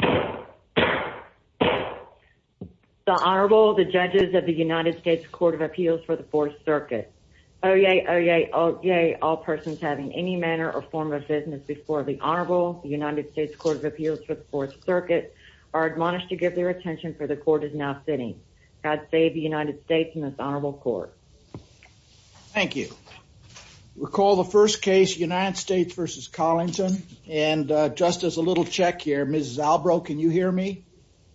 The Honorable, the Judges of the United States Court of Appeals for the Fourth Circuit. Oye, oye, oye, all persons having any manner or form of business before the Honorable, the United States Court of Appeals for the Fourth Circuit, are admonished to give their attention for the Court is now sitting. God save the United States and this Honorable Court. Thank you. Recall the first case, United States v. Collington, and just as a little check here, Ms. Zalbro, can you hear me?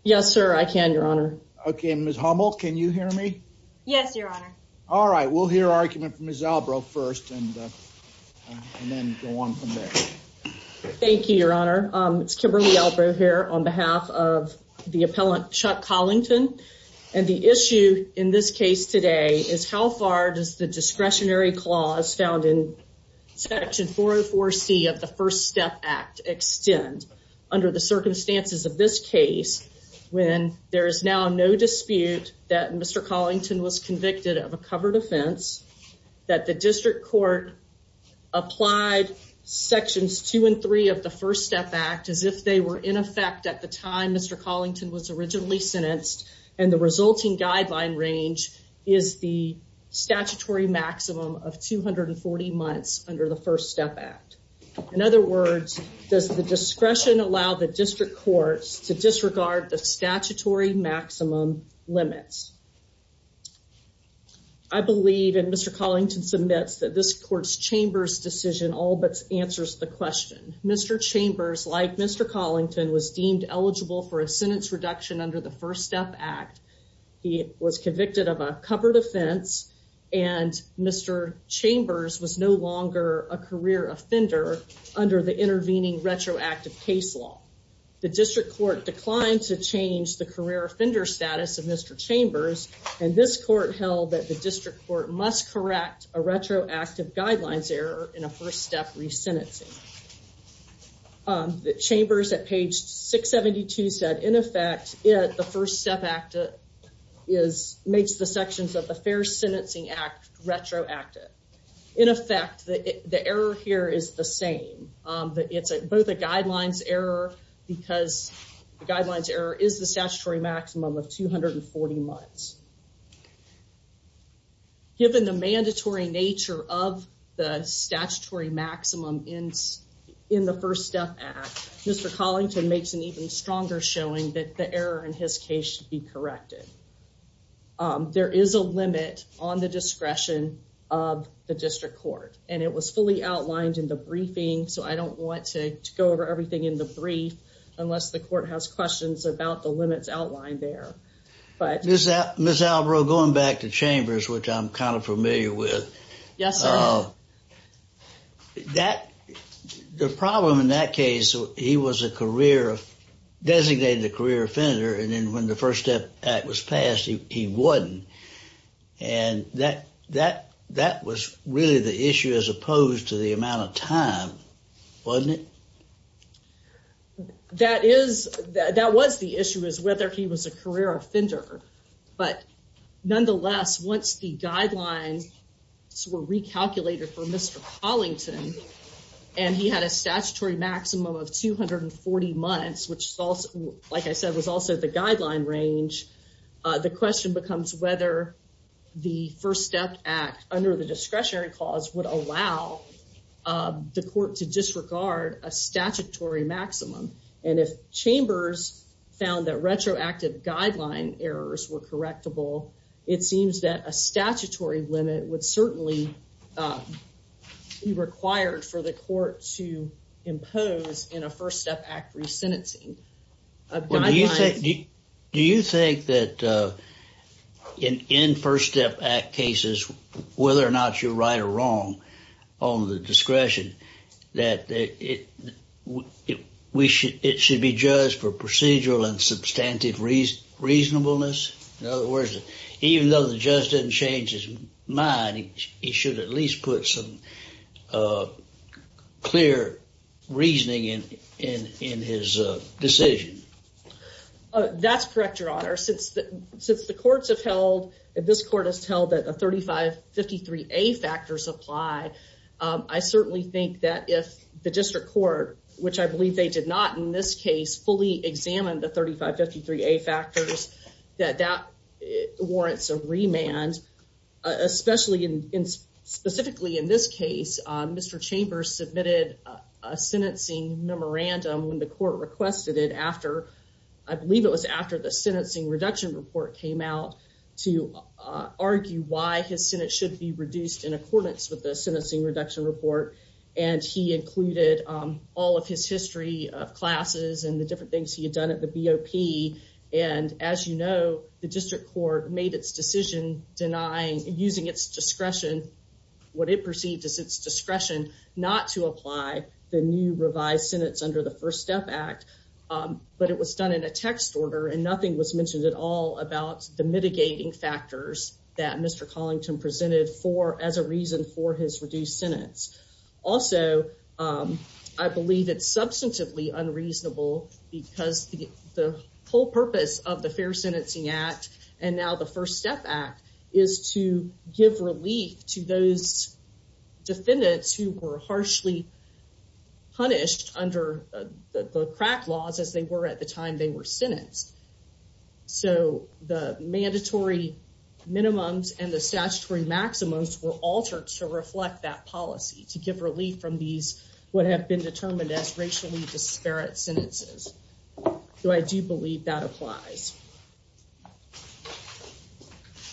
Yes, sir, I can, Your Honor. Okay, and Ms. Hummel, can you hear me? Yes, Your Honor. All right, we'll hear argument from Ms. Zalbro first and then go on from there. Thank you, Your Honor. It's Kimberly Zalbro here on behalf of the appellant Chuck Collington, and the issue in this case today is how far does the discretionary clause found in Section 404C of the First Step Act extend under the circumstances of this case when there is now no dispute that Mr. Collington was convicted of a covered offense, that the District Court applied Sections 2 and 3 of the First Step Act as if they were in effect at the time Mr. Collington was originally sentenced, and the resulting guideline range is the statutory maximum of 240 months under the First Step Act. In other words, does the discretion allow the District Courts to disregard the statutory maximum limits? I believe, and Mr. Collington submits, that this Court's Chambers decision all but answers the question. Mr. Chambers, like Mr. Collington, was deemed eligible for a sentence reduction under the First Step Act. He was convicted of a covered offense, and Mr. Chambers was no longer a career offender under the intervening retroactive case law. The District Court declined to change the career offender status of Mr. Chambers, and this Court held that the District Court must correct a retroactive guidelines error in a First Step resentencing. Chambers at page 672 said, in effect, the First Step Act makes the sections of the Fair Sentencing Act retroactive. In effect, the error here is the same. It's both a guidelines error, because the guidelines error is the statutory maximum of 240 months. Given the mandatory nature of the statutory maximum in the First Step Act, Mr. Collington makes an even stronger showing that the error in his case should be corrected. There is a limit on the discretion of the District Court, and it was fully outlined in the briefing, so I don't want to go over everything in the brief unless the Court has questions about the limits outlined there. Ms. Alvaro, going back to Chambers, which I'm kind of familiar with, the problem in that case, he was a designated career offender, and then when the First Step Act was passed, he wasn't. And that was really the issue as opposed to the amount of time, wasn't it? That is, that was the issue, is whether he was a career offender. But nonetheless, once the guidelines were recalculated for Mr. Collington, and he had a statutory maximum of 240 months, which, like I said, was also the guideline range, the question becomes whether the First Step Act, under the discretionary clause, would allow the Court to disregard a statutory maximum. And if Chambers found that retroactive guideline errors were correctable, it seems that a statutory limit would certainly be required for the Court to impose in a First Step Act. Do you think that in First Step Act cases, whether or not you're right or wrong on the discretion, that it should be judged for procedural and substantive reasonableness? In other words, even though the judge didn't change his mind, he should at least put some clear reasoning in his decision. That's correct, Your Honor. Since the courts have held, and this Court has held, that the 3553A factors apply, I certainly think that if the District Court, which I believe they did not in this case, fully examined the 3553A factors, that that warrants a remand. Especially, specifically in this case, Mr. Chambers submitted a sentencing memorandum when the Court requested it after, I believe it was after the Sentencing Reduction Report came out, to argue why his sentence should be reduced in accordance with the Sentencing Reduction Report. And he included all of his history of classes and the different things he denied using its discretion. What it perceived as its discretion not to apply the new revised sentence under the First Step Act, but it was done in a text order and nothing was mentioned at all about the mitigating factors that Mr. Collington presented for as a reason for his reduced sentence. Also, I believe it's substantively unreasonable because the whole purpose of the Fair Sentencing Act, and now the First Step Act, is to give relief to those defendants who were harshly punished under the crack laws as they were at the time they were sentenced. So, the mandatory minimums and the statutory maximums were altered to reflect that policy, to give relief from these what have been determined as racially disparate sentences. So, I do believe that applies.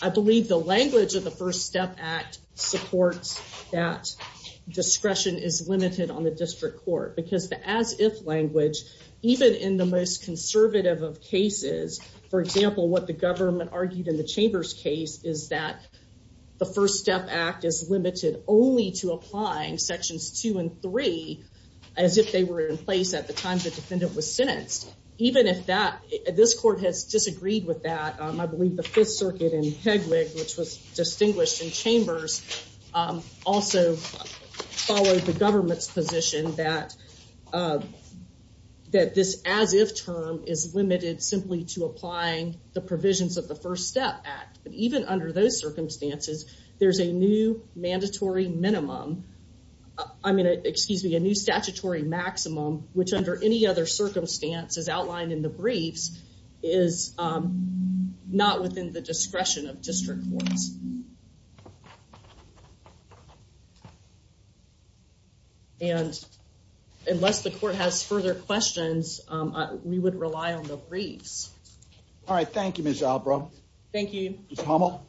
I believe the language of the First Step Act supports that discretion is limited on the district court because the as-if language, even in the most conservative of cases, for example, what the government argued in the Chambers case is that the First Step Act is limited only to even if this court has disagreed with that. I believe the Fifth Circuit in Hegwig, which was distinguished in Chambers, also followed the government's position that this as-if term is limited simply to applying the provisions of the First Step Act. Even under those circumstances, there's a new mandatory minimum, I mean, excuse me, a new statutory maximum, which under any other circumstance, as outlined in the briefs, is not within the discretion of district courts. And unless the court has further questions, we would rely on the briefs. All right, thank you, Ms. Albro. Thank you. Ms. Hummel.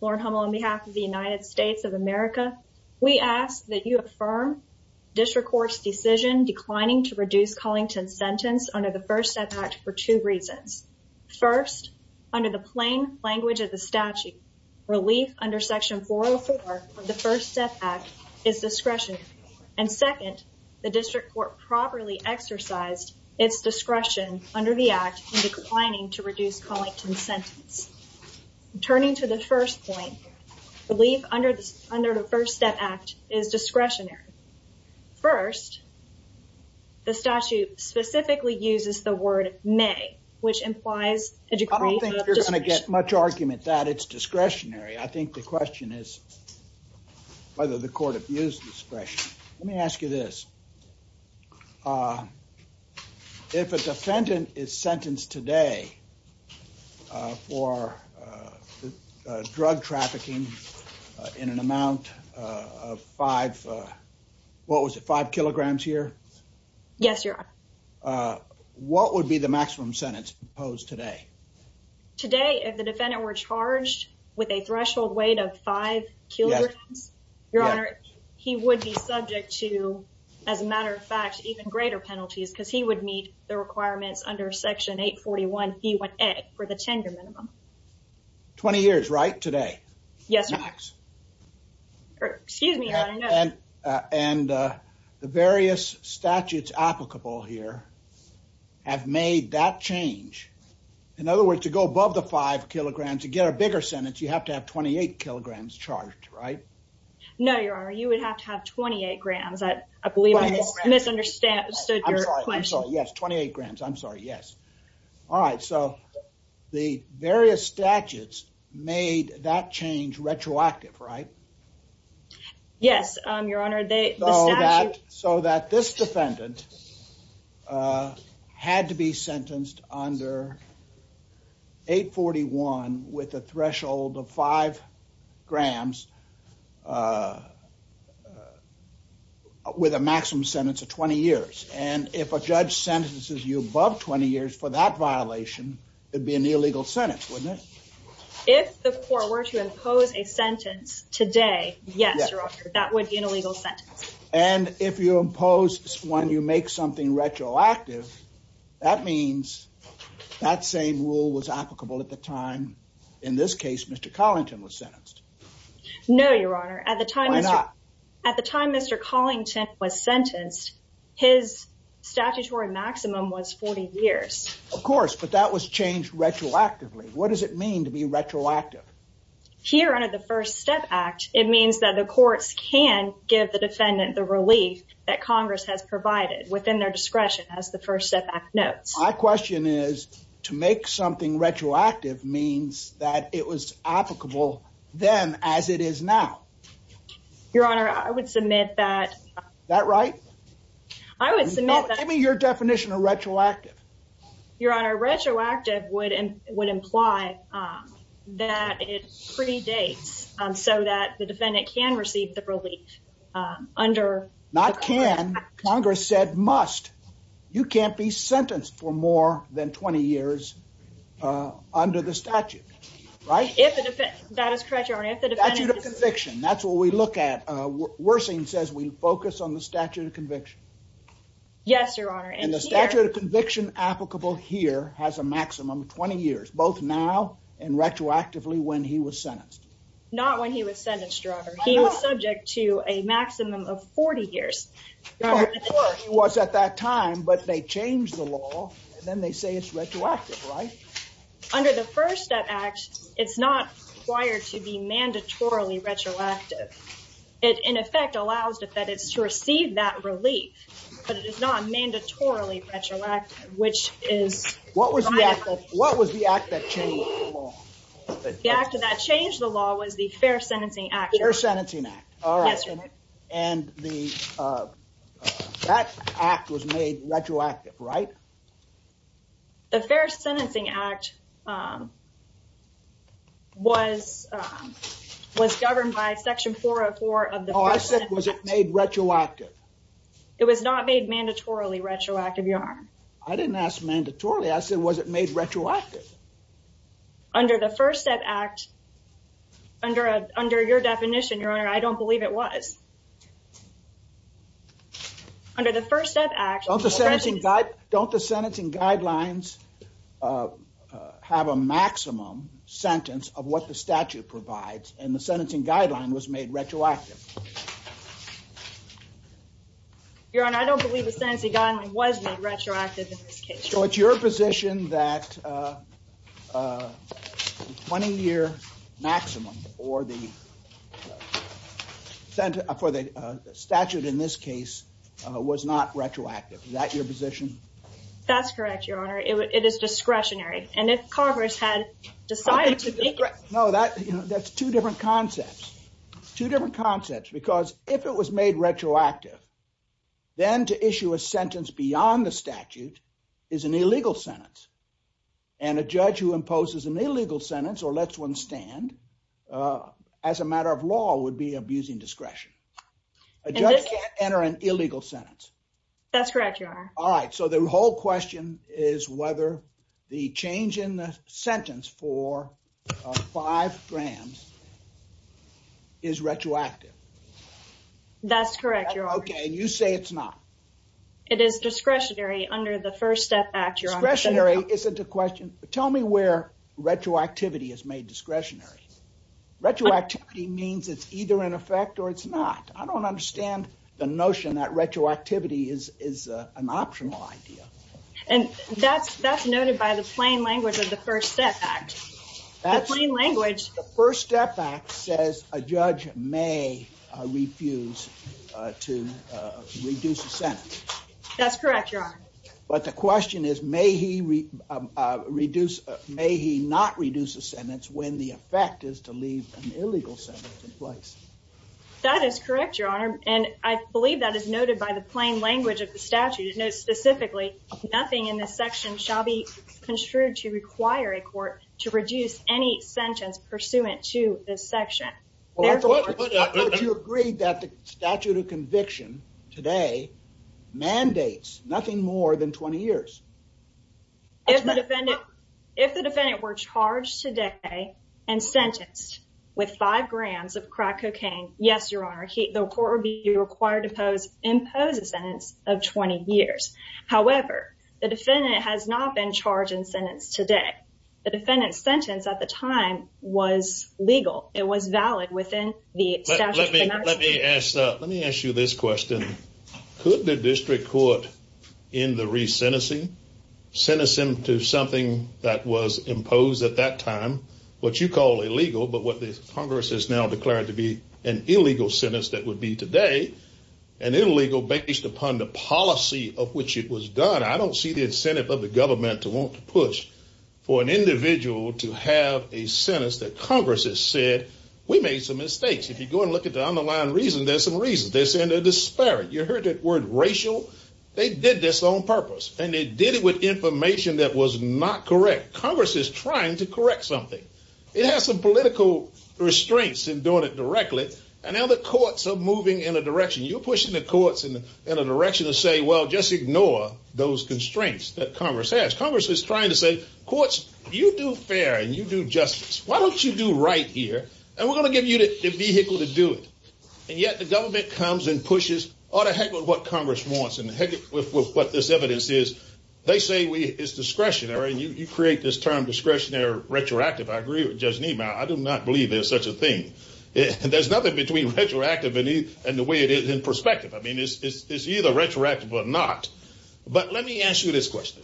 Lauren Hummel, on behalf of the United States of America, we ask that you affirm district court's decision declining to reduce Collington's sentence under the First Step Act for two reasons. First, under the plain language of the statute, relief under Section 404 of the First Step Act is discretionary. And second, the district court properly exercised its discretion under the act in declining to reduce Collington's sentence. Turning to the first point, relief under the First Step Act is discretionary. First, the statute specifically uses the word may, which implies a degree of discretion. I don't think you're going to get much argument that it's discretionary. I think the question is whether the court abused discretion. Let me ask you this. If a defendant is sentenced today for drug trafficking in an amount of five, what was it, five kilograms here? Yes, Your Honor. What would be the maximum sentence imposed today? Today, if the defendant were charged with a threshold weight of five kilograms, Your Honor, he would be subject to, as a matter of fact, even greater penalties because he would meet the requirements under Section 841B1A for the tenure minimum. Twenty years, right, today? Yes, Your Honor. Max. Excuse me, Your Honor, no. And the various statutes applicable here have made that change. In other words, to go above the five kilograms, to get a bigger sentence, you have to have 28 kilograms charged, right? No, Your Honor, you would have to have 28 grams. I believe I misunderstood your question. I'm sorry, yes, 28 grams. I'm sorry, yes. All right, so the various statutes made that change retroactive, right? Yes, Your Honor. So that this defendant had to be sentenced under 841 with a threshold of five grams with a maximum sentence of 20 years. And if a judge sentences you above 20 years for that violation, it'd be an illegal sentence, wouldn't it? If the court were to impose a sentence today, yes, Your Honor, that would be an illegal sentence. And if you impose when you make something retroactive, that means that same rule was sentenced. No, Your Honor. At the time Mr. Collington was sentenced, his statutory maximum was 40 years. Of course, but that was changed retroactively. What does it mean to be retroactive? Here under the First Step Act, it means that the courts can give the defendant the relief that Congress has provided within their discretion as the First Step Act notes. My question is to make something retroactive means that it was applicable then as it is now. Your Honor, I would submit that. Is that right? I would submit that. Give me your definition of retroactive. Your Honor, retroactive would imply that it predates so that the defendant can receive the more than 20 years under the statute, right? That is correct, Your Honor. Statute of conviction, that's what we look at. Worsening says we focus on the statute of conviction. Yes, Your Honor. And the statute of conviction applicable here has a maximum of 20 years, both now and retroactively when he was sentenced. Not when he was sentenced, Your Honor. He was subject to a maximum of 40 years. Of course, he was at that time, but they changed the law and then they say it's retroactive, right? Under the First Step Act, it's not required to be mandatorily retroactive. It, in effect, allows the defendants to receive that relief, but it is not mandatorily retroactive, which is... What was the act that changed the law? The act that changed the law was the Fair Sentencing Act. Fair Sentencing Act. Yes, Your Honor. And that act was made retroactive, right? The Fair Sentencing Act was governed by Section 404 of the First Step Act. No, I said, was it made retroactive? It was not made mandatorily retroactive, Your Honor. I didn't ask mandatorily. I said, was it made retroactive? Under the First Step Act, under your definition, Your Honor, I don't believe it was. Under the First Step Act... Don't the sentencing guidelines have a maximum sentence of what the statute provides, and the sentencing guideline was made retroactive? Your Honor, I don't believe the sentencing guideline was made retroactive in this case. It's your position that the 20-year maximum for the statute in this case was not retroactive. Is that your position? That's correct, Your Honor. It is discretionary, and if Carver's had decided to make it... No, that's two different concepts. Two different concepts, because if it was made retroactive, then to issue a sentence beyond the statute is an illegal sentence, and a judge who imposes an illegal sentence or lets one stand as a matter of law would be abusing discretion. A judge can't enter an illegal sentence. That's correct, Your Honor. All right, so the whole question is whether the change in the sentence for five grams is retroactive. That's correct, Your Honor. Okay, and you say it's not. It is discretionary under the First Step Act, Your Honor. Discretionary isn't a question. Tell me where retroactivity is made discretionary. Retroactivity means it's either in effect or it's not. I don't understand the notion that retroactivity is an optional idea. And that's noted by the plain language of the First Step Act. The plain language... The First Step Act says a judge may refuse to reduce a sentence. That's correct, Your Honor. But the question is may he not reduce a sentence when the effect is to leave an illegal sentence in place. That is correct, Your Honor, and I believe that is noted by the plain language of the statute. It notes specifically, nothing in this section shall be construed to require a court to reduce any sentence pursuant to this section. But you agreed that the statute of conviction today mandates nothing more than 20 years. If the defendant were charged today and sentenced with five grams of crack cocaine, yes, Your Honor, the court would be required to impose a sentence of 20 years. However, the defendant has not been charged and sentenced today. The defendant's sentence at the time was legal. It was valid within the statute of conviction. Let me ask you this question. Could the district court end the re-sentencing, sentencing to something that was imposed at that time, what you call illegal, but what the Congress has now declared to be an illegal sentence that would be today, an illegal based upon the policy of which it was done. I don't see the incentive of the government to want to push for an individual to have a sentence that Congress has said, we made some mistakes. If you go and look at the underlying reason, there's some reasons. They're saying they're disparate. You heard that word racial. They did this on purpose and they did it with information that was not correct. Congress is trying to correct something. It has some political restraints in doing it directly. And now the courts are moving in a direction. You're pushing the courts in a direction to say, well, just ignore those constraints that Congress has. Congress is trying to say, courts, you do fair and you do justice. Why don't you do right here? And we're going to give you the vehicle to do it. And yet the government comes and pushes all the heck with what Congress wants and the heck with what this evidence is. They say it's discretionary and you create this term discretionary retroactive. I agree with Judge Niemeyer. I do not believe there's such a thing. There's nothing between retroactive and the way it is in perspective. I mean, it's either retroactive or not. But let me ask you this question.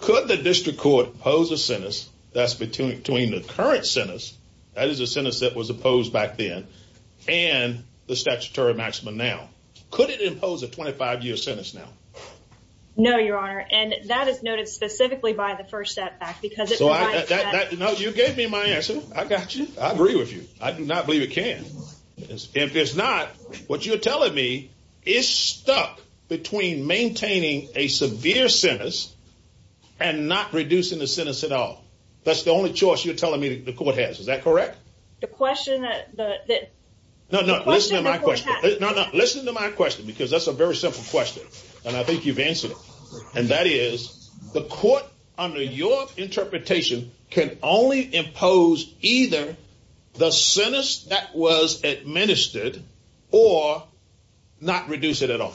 Could the district court pose a sentence that's between the current sentence that is a sentence that was opposed back then and the statutory maximum now? Could it impose a 25 year sentence now? No, your honor. And that is noted specifically by the first setback because it provides that. No, you gave me my answer. I got you. I agree with you. I do not is stuck between maintaining a severe sentence and not reducing the sentence at all. That's the only choice you're telling me the court has. Is that correct? The question that. No, no, listen to my question because that's a very simple question. And I think you've answered it. And that is the court under your interpretation can only impose either the sentence that was administered or not reduce it at all.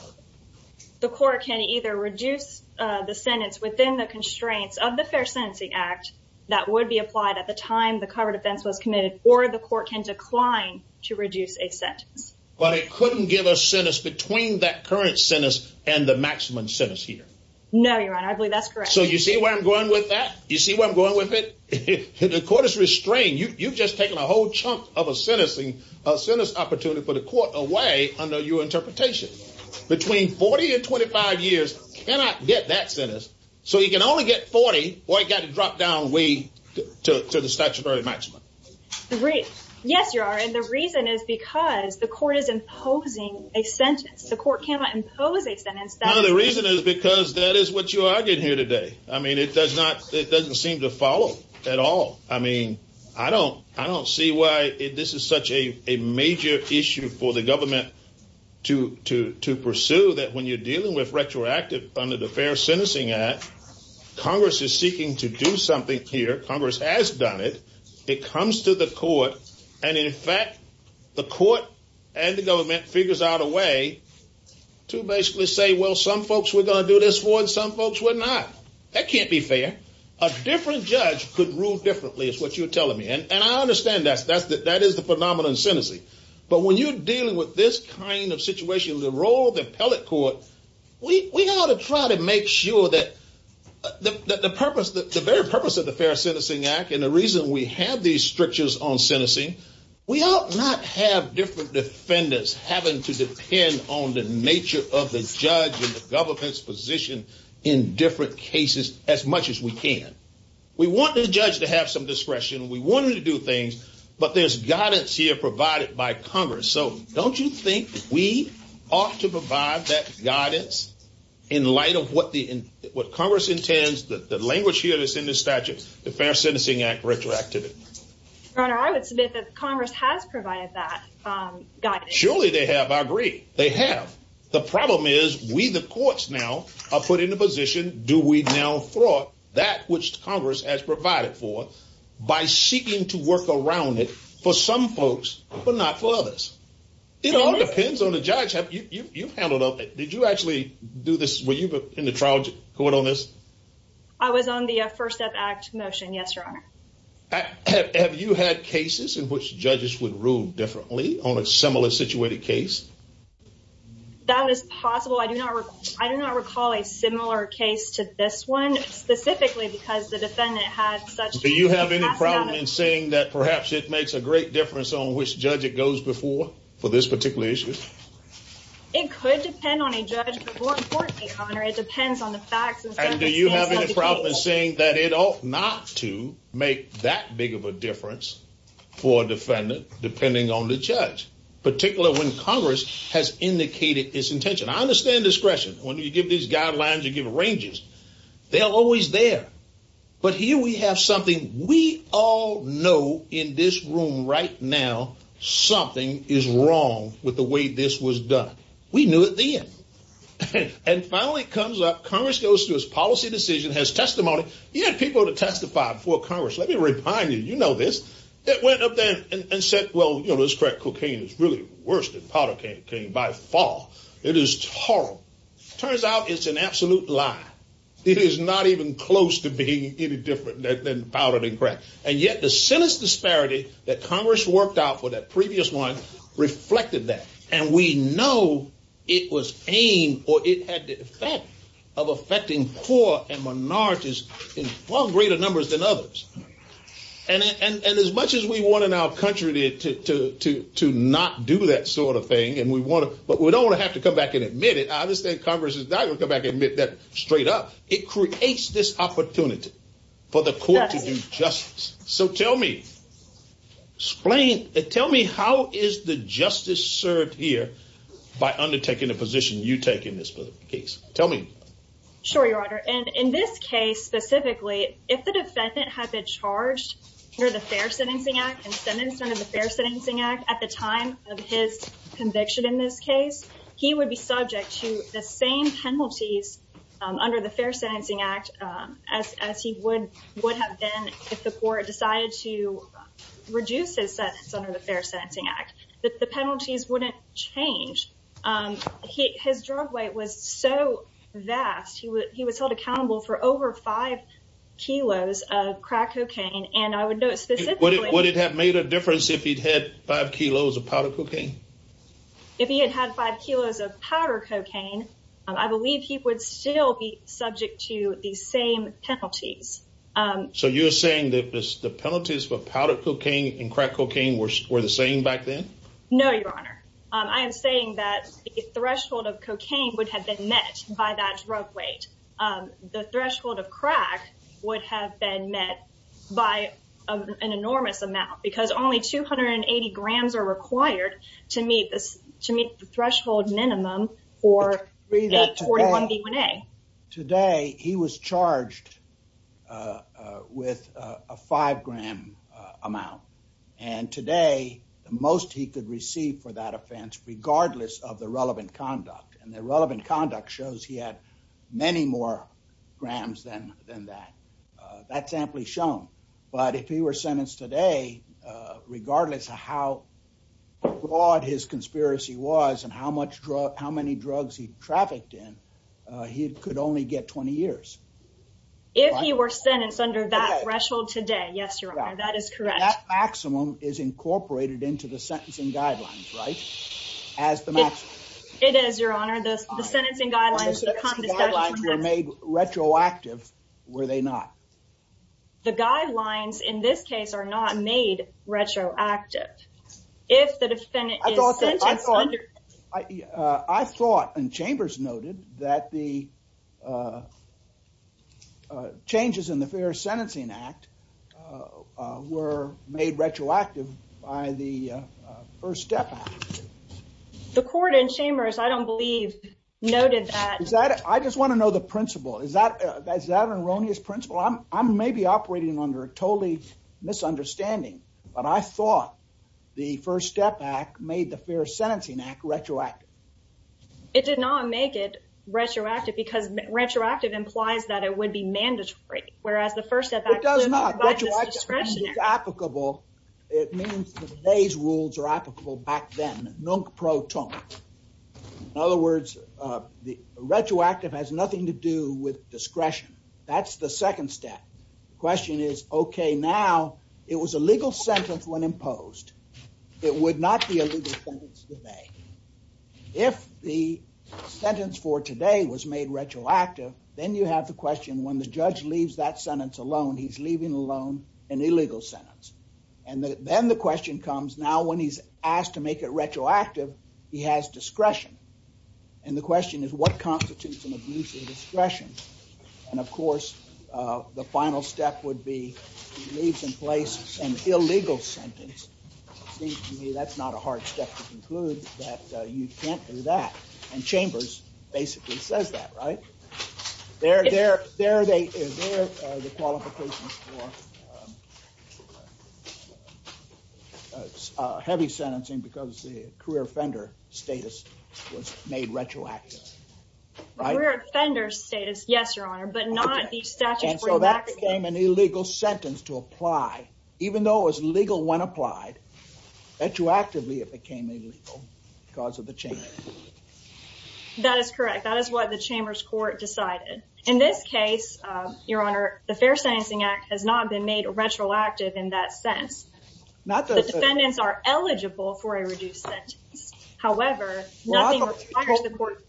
The court can either reduce the sentence within the constraints of the Fair Sentencing Act that would be applied at the time the cover defense was committed or the court can decline to reduce a sentence. But it couldn't give a sentence between that current sentence and the maximum sentence here. No, your honor. I believe that's correct. So you see where I'm going with that? You see where I'm going with it? The court is restrained. You've just taken a whole chunk of a sentencing, a sentence opportunity for the court away under your interpretation between 40 and 25 years. Cannot get that sentence. So you can only get 40 or you got to drop down. We took to the statutory maximum rate. Yes, you are. And the reason is because the court is imposing a sentence. The court cannot impose a sentence. The reason is because that is what you argued here today. I mean, it does not. It doesn't seem to follow at all. I mean, I don't I don't see why this is such a major issue for the government to to to pursue that when you're dealing with retroactive under the Fair Sentencing Act, Congress is seeking to do something here. Congress has done it. It comes to the court. And in fact, the court and the government figures out a way to basically say, well, some folks were going to do this one. Some folks were not. That can't be fair. A different judge could rule differently is what you're telling me. And I understand that. That's that. That is the phenomenon in sentencing. But when you're dealing with this kind of situation, the role of the appellate court, we ought to try to make sure that the purpose, the very purpose of the Fair Sentencing Act and the reason we have these strictures on sentencing, we ought not have different defendants having to in different cases as much as we can. We want the judge to have some discretion. We want him to do things. But there's guidance here provided by Congress. So don't you think we ought to provide that guidance in light of what the what Congress intends that the language here is in the statutes, the Fair Sentencing Act retroactive? I would submit that Congress has provided that Surely they have. I agree they have. The problem is we, the courts now are put in the position. Do we now thwart that which Congress has provided for by seeking to work around it for some folks, but not for others? It all depends on the judge. You've handled it. Did you actually do this? Were you in the trial court on this? I was on the First Step Act motion. Yes, Your Honor. Have you had cases in which judges would rule differently on a similar situated case? That is possible. I do not recall a similar case to this one specifically because the defendant had such Do you have any problem in saying that perhaps it makes a great difference on which judge it goes before for this particular issue? It could depend on a judge, but more importantly, it depends on the facts. And do you have any problem saying that it ought not to make that big of a difference for a defendant, depending on the judge, particularly when Congress has indicated its intention? I understand discretion. When you give these guidelines, you give ranges. They are always there. But here we have something we all know in this room right now. Something is wrong with the way this was done. We knew it then. And finally comes up, Congress goes to his policy decision, has testimony. He had people to testify before Congress. Let me remind you, you know this. It went up there and said, well, you know, this crack cocaine is really worse than powder cane by far. It is horrible. Turns out it's an absolute lie. It is not even close to being any different than powder and crack. And yet the sinister disparity that Congress worked out for that previous one reflected that. And we know it was aimed, or it had the effect of affecting poor and minorities in far greater numbers than others. And as much as we want in our country to not do that sort of thing, and we want to, but we don't want to have to come back and admit it. I understand Congress is not going to come back and admit that straight up. It tells me how is the justice served here by undertaking a position you take in this case? Tell me. Sure, Your Honor. And in this case specifically, if the defendant had been charged under the Fair Sentencing Act and sentenced under the Fair Sentencing Act at the time of his conviction in this case, he would be subject to the same penalties under the Fair Sentencing Act as he would have been if the court decided to reduce his sentence under the Fair Sentencing Act. The penalties wouldn't change. His drug weight was so vast. He was held accountable for over five kilos of crack cocaine. And I would note specifically... Would it have made a difference if he'd had five kilos of powder cocaine? If he had had five kilos of powder cocaine, I believe he would still be subject to the same penalties. So you're saying that the penalties for powder cocaine and crack cocaine were the same back then? No, Your Honor. I am saying that the threshold of cocaine would have been met by that drug weight. The threshold of crack would have been met by an enormous amount because only 280 grams are required to meet the minimum threshold for the 41B1A. Today, he was charged with a five gram amount. And today, the most he could receive for that offense, regardless of the relevant conduct. And the relevant conduct shows he had many more grams than that. That's amply shown. But if he were to be charged with a five gram amount, regardless of how much conspiracy was and how many drugs he trafficked in, he could only get 20 years. If he were sentenced under that threshold today. Yes, Your Honor. That is correct. That maximum is incorporated into the sentencing guidelines, right? As the maximum. It is, Your Honor. The sentencing guidelines were made retroactive, were they not? The guidelines, in this case, are not made retroactive. If the defendant is under... I thought, and Chambers noted, that the changes in the Fair Sentencing Act were made retroactive by the First Step Act. The court in Chambers, I don't believe, noted that... Is that... I just want to know the principle. Is that an erroneous principle? I'm maybe operating under a total misunderstanding, but I thought the First Step Act made the Fair Sentencing Act retroactive. It did not make it retroactive because retroactive implies that it would be mandatory, whereas the First Step Act... It does not. Retroactive means it's applicable. It means that today's rules are applicable back then, non pro ton. In other words, retroactive has now... It was a legal sentence when imposed. It would not be a legal sentence today. If the sentence for today was made retroactive, then you have the question, when the judge leaves that sentence alone, he's leaving alone an illegal sentence. Then the question comes, now when he's asked to make it retroactive, he has discretion. The question is, what constitutes an abuse of discretion? And of course, the final step would be he leaves in place an illegal sentence. Seems to me that's not a hard step to conclude that you can't do that. And Chambers basically says that, right? There are the qualifications for a heavy sentencing because the career offender status was made retroactive. A career offender status, yes, Your Honor, but not the statute for... And so that became an illegal sentence to apply, even though it was legal when applied. Retroactively, it became illegal because of the Chamber. That is correct. That is what the Chambers Court decided. In this case, Your Honor, the Fair Sentencing Act has not been made retroactive in that sense. The defendants are eligible for a reduced sentence. However, nothing requires the court...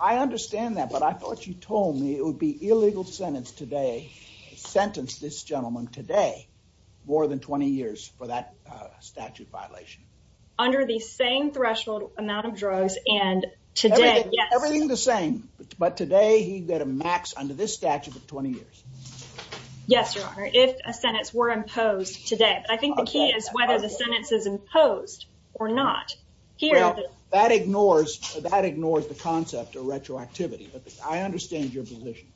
I understand that, but I thought you told me it would be illegal sentence today, sentence this gentleman today, more than 20 years for that statute violation. Under the same threshold amount of drugs and today, yes. Everything the same, but today he got a max under this statute of 20 years. Yes, Your Honor, if a sentence were imposed today. I think the key is whether the sentence is imposed or not. That ignores the concept of retroactivity, but I understand your position.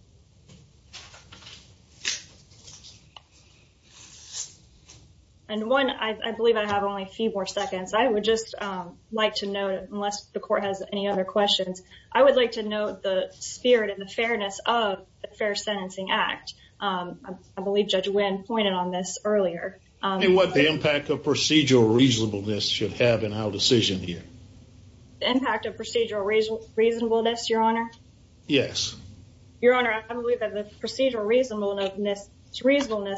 And one, I believe I have only a few more seconds. I would just like to note, unless the court has any other questions, I would like to note the spirit and the fairness of the Fair Sentencing Act. I believe Judge Wynn pointed on this earlier. And what the impact of procedural reasonableness should have in our decision here. The impact of procedural reasonableness, Your Honor? Yes. Your Honor, I believe that the procedural reasonableness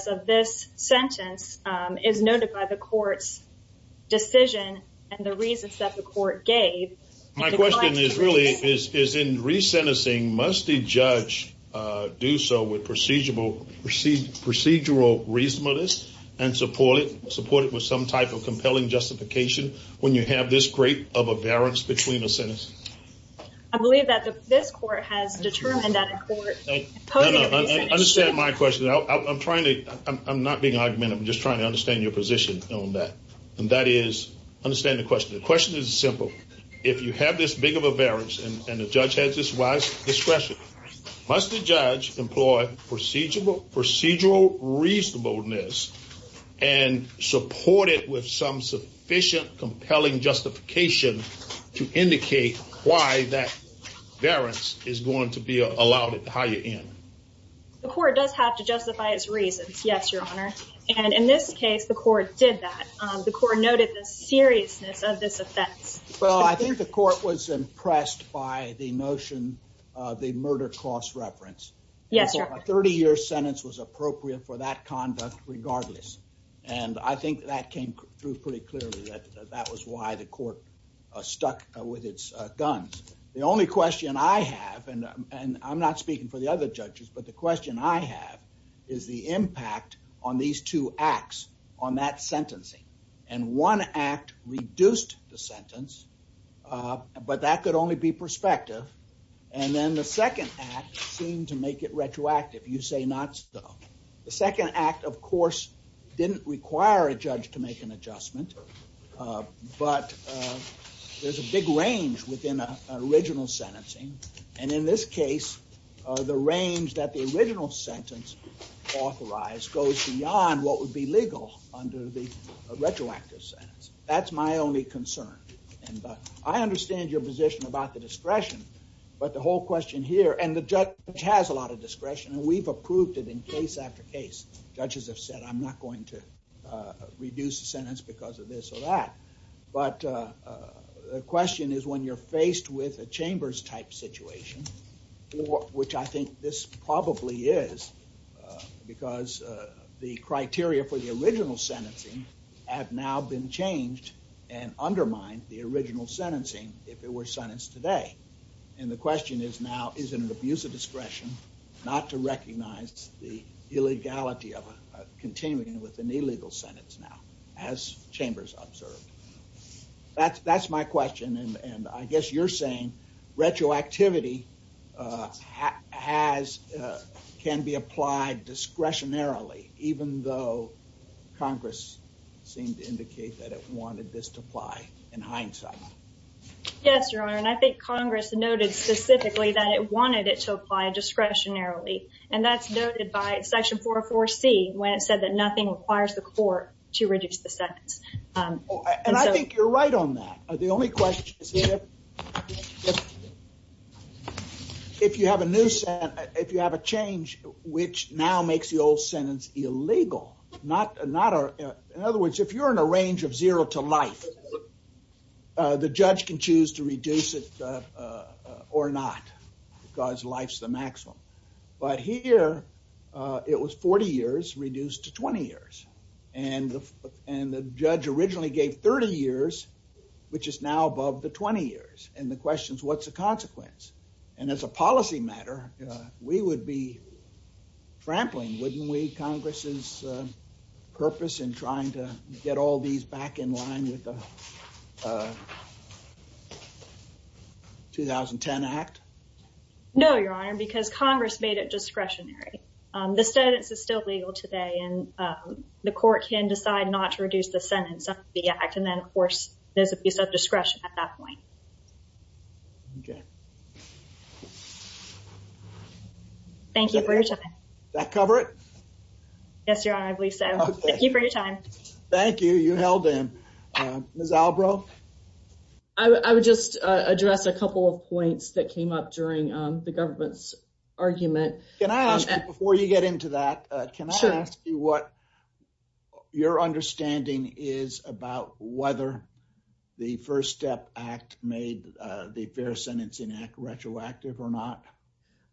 of this sentence is noted by the court's decision and the reasons that the court gave. My question is really, is in resentencing, must a judge do so with procedural reasonableness and support it with some type of compelling justification when you have this great of a variance between the sentence? I believe that this court has determined that a court... Understand my question. I'm not being argumentative. I'm just trying to understand your position on that. And that is, understand the question. The question is simple. If you have this big of a variance and the judge has this wise discretion, must the judge employ procedural reasonableness and support it with some sufficient compelling justification to indicate why that variance is going to be allowed at the higher end? The court does have to justify its reasons. Yes, Your Honor. And in this case, the court did that. The court noted the seriousness of this offense. Well, I think the court was impressed by the notion of the murder cross-reference. Yes, Your Honor. A 30-year sentence was appropriate for that conduct regardless. And I think that came through pretty clearly that that was why the court stuck with its guns. The only question I have, and I'm not speaking for the other judges, but the question I have is the impact on these two acts on that sentencing. And one act reduced the sentence, but that could only be prospective. And then the second act seemed to make it retroactive. You say not so. The second act, of course, didn't require a judge to make an adjustment, but there's a big range within original sentencing. And in this case, the range that the original sentence authorized goes beyond what would be legal under the retroactive sentence. That's my only concern. And I understand your position about the discretion, but the whole question here, and the judge has a lot of discretion, and we've approved it in case after case. Judges have said, I'm not going to reduce the sentence because of this or that. But the question is when you're faced with a chambers-type situation, which I think this probably is, because the criteria for the original sentencing have now been changed and undermined the original sentencing if it were sentenced today. And the question is now, is it an abuse of discretion not to recognize the illegality of continuing with an illegal sentence now, as chambers observed? That's my question. And I guess you're saying retroactivity has, can be applied discretionarily, even though Congress seemed to indicate that it wanted this to apply in hindsight. Yes, Your Honor. And I think Congress noted specifically that it wanted it to apply discretionarily. And that's noted by section 404C when it said that nothing requires the court to reduce the sentence. And I think you're right on that. The only question is if you have a new sentence, if you have a change which now makes the old sentence illegal, not, in other words, if you're in a range of zero to life, the judge can choose to reduce it or not, because life's the maximum. But here it was 40 years reduced to 20 years. And the judge originally gave 30 years, which is now above the 20 years. And the question is, what's the consequence? And as a policy matter, we would be trampling, wouldn't we, Congress's purpose in trying to get all these back in line with the 2010 Act? No, Your Honor, because Congress made it discretionary. The sentence is still legal today and the court can decide not to reduce the sentence under the Act. And then, of course, there's a piece of discretion at that point. Okay. Thank you for your time. Does that cover it? Yes, Your Honor, I believe so. Thank you for your time. Thank you. You held him. Ms. Albro? I would just address a couple of points that came up during the government's argument. Can I ask you, before you get into that, can I ask you what your understanding is about whether the First Step Act made the fair sentence retroactive or not?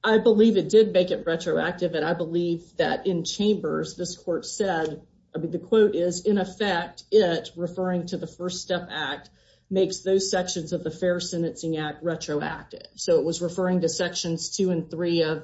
I believe it did make it retroactive. And I believe that in chambers, this court said, I mean, the quote is, in effect, it, referring to the First Step Act, makes those sections of the Fair Sentencing Act retroactive. So it was referring to sections two and three of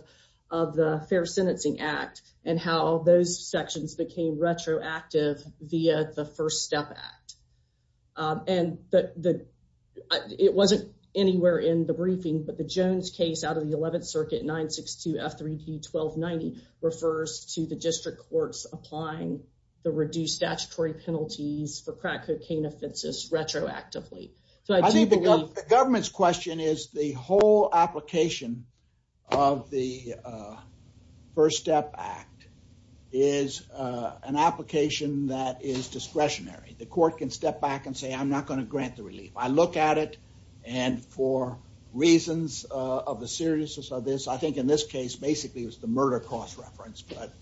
the Fair Sentencing Act and how those sections became retroactive via the First Step Act. And it wasn't anywhere in the briefing, but the Jones case out of the 11th Circuit 962 F3D 1290 refers to the district courts applying the reduced statutory penalties for crack cocaine offenses retroactively. So I think the government's question is the whole application of the First Step Act is an application that is discretionary. The court can step back and say, I'm not going to grant the relief. I look at it and for reasons of the seriousness of this, I think in this case, basically, it was the murder cost reference. But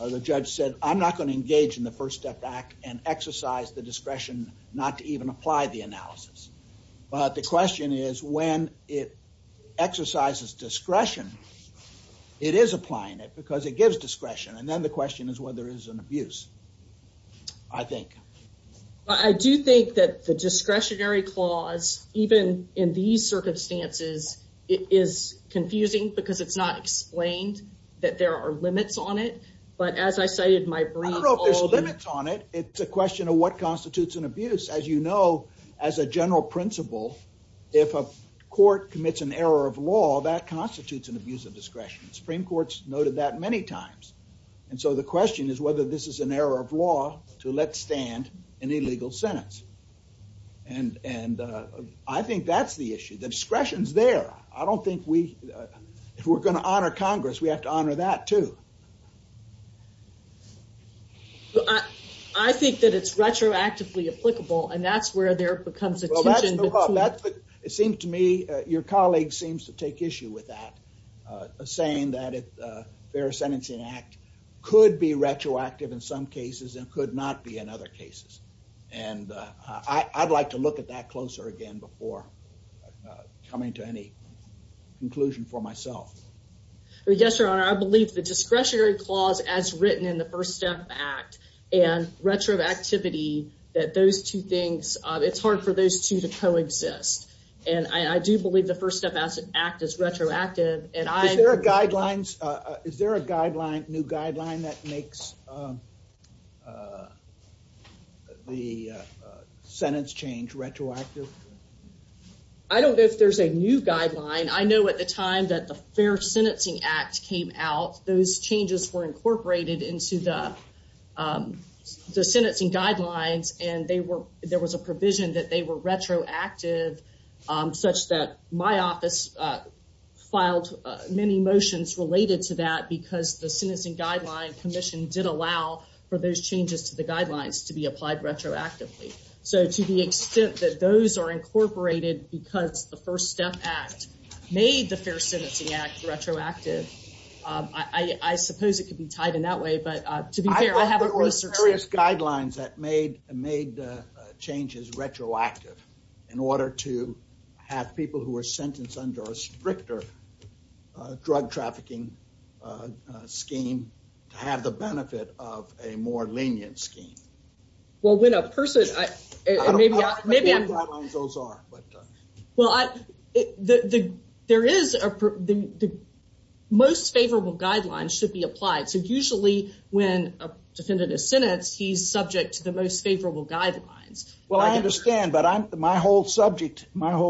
the judge said, I'm not going to engage in the First Step Act and exercise the discretion not to even apply the it because it gives discretion. And then the question is whether there is an abuse, I think. But I do think that the discretionary clause, even in these circumstances, is confusing because it's not explained that there are limits on it. But as I cited my brief... I don't know if there's limits on it. It's a question of what constitutes an abuse. As you know, as a general principle, if a court commits an error of law, that constitutes an abuse of that many times. And so the question is whether this is an error of law to let stand an illegal sentence. And I think that's the issue. The discretion's there. I don't think we, if we're going to honor Congress, we have to honor that too. I think that it's retroactively applicable and that's where there becomes a tension. It seems to me, your colleague seems to take issue with that. Saying that a fair sentencing act could be retroactive in some cases and could not be in other cases. And I'd like to look at that closer again before coming to any conclusion for myself. Yes, Your Honor. I believe the discretionary clause as written in the First Step Act and retroactivity, that those two things, it's hard for those two to coexist. And I do believe the First Step Act is retroactive. Is there a new guideline that makes the sentence change retroactive? I don't know if there's a new guideline. I know at the time that the Fair Sentencing Act came out, those changes were incorporated into the sentencing guidelines and there was a provision that they were retroactive such that my office filed many motions related to that because the Sentencing Guidelines Commission did allow for those changes to the guidelines to be applied retroactively. So to the extent that those are incorporated because the First Step Act made the Fair Sentencing Act retroactive, I suppose it could be tied in that way. But to be fair, I haven't researched it. I think there were various guidelines that made changes retroactive in order to have people who were sentenced under a stricter drug trafficking scheme to have the benefit of a more lenient scheme. Well, when a person, maybe I'm... I don't know what guidelines those are. Well, the most favorable guidelines should be applied. So usually when a defendant is sentenced, he's subject to the most favorable guidelines. Well, I understand, but my whole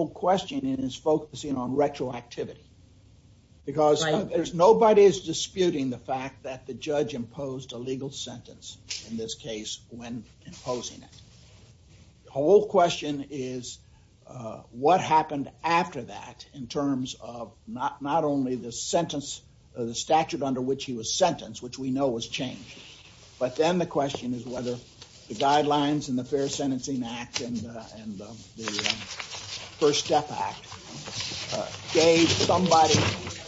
question is focusing on retroactivity because nobody is disputing the fact that the judge imposed a legal sentence in this case when imposing it. The whole question is what happened after that in terms of not only the sentence or the statute under which he was sentenced, which we know was changed, but then the question is whether the guidelines in the Fair Sentencing Act and the First Step Act gave somebody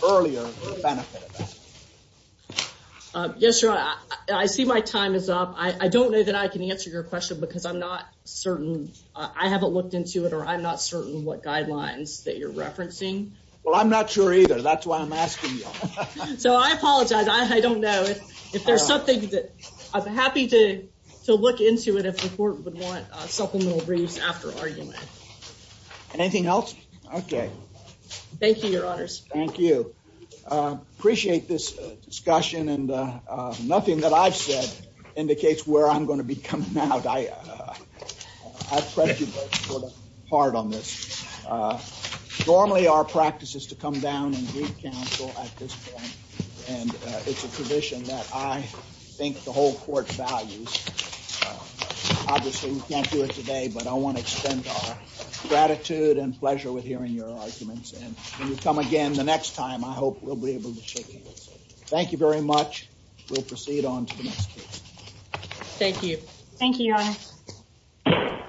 earlier the benefit of that. Yes, sir. I see my time is up. I don't know if I can answer your question because I'm not certain. I haven't looked into it or I'm not certain what guidelines that you're referencing. Well, I'm not sure either. That's why I'm asking you. So I apologize. I don't know if there's something that... I'm happy to look into it if the court would want supplemental briefs after argument. Anything else? Okay. Thank you, your honors. Thank you. Appreciate this discussion and nothing that I've said indicates where I'm going to be coming out. I prejudged sort of hard on this. Normally, our practice is to come down and brief counsel at this point and it's a position that I think the whole court values. Obviously, we can't do it today, but I want to extend our gratitude and pleasure with hearing your arguments and when you come again the next time, I hope we'll be able to shake hands. Thank you very much. We'll proceed on to the next case. Thank you. Thank you, your honor.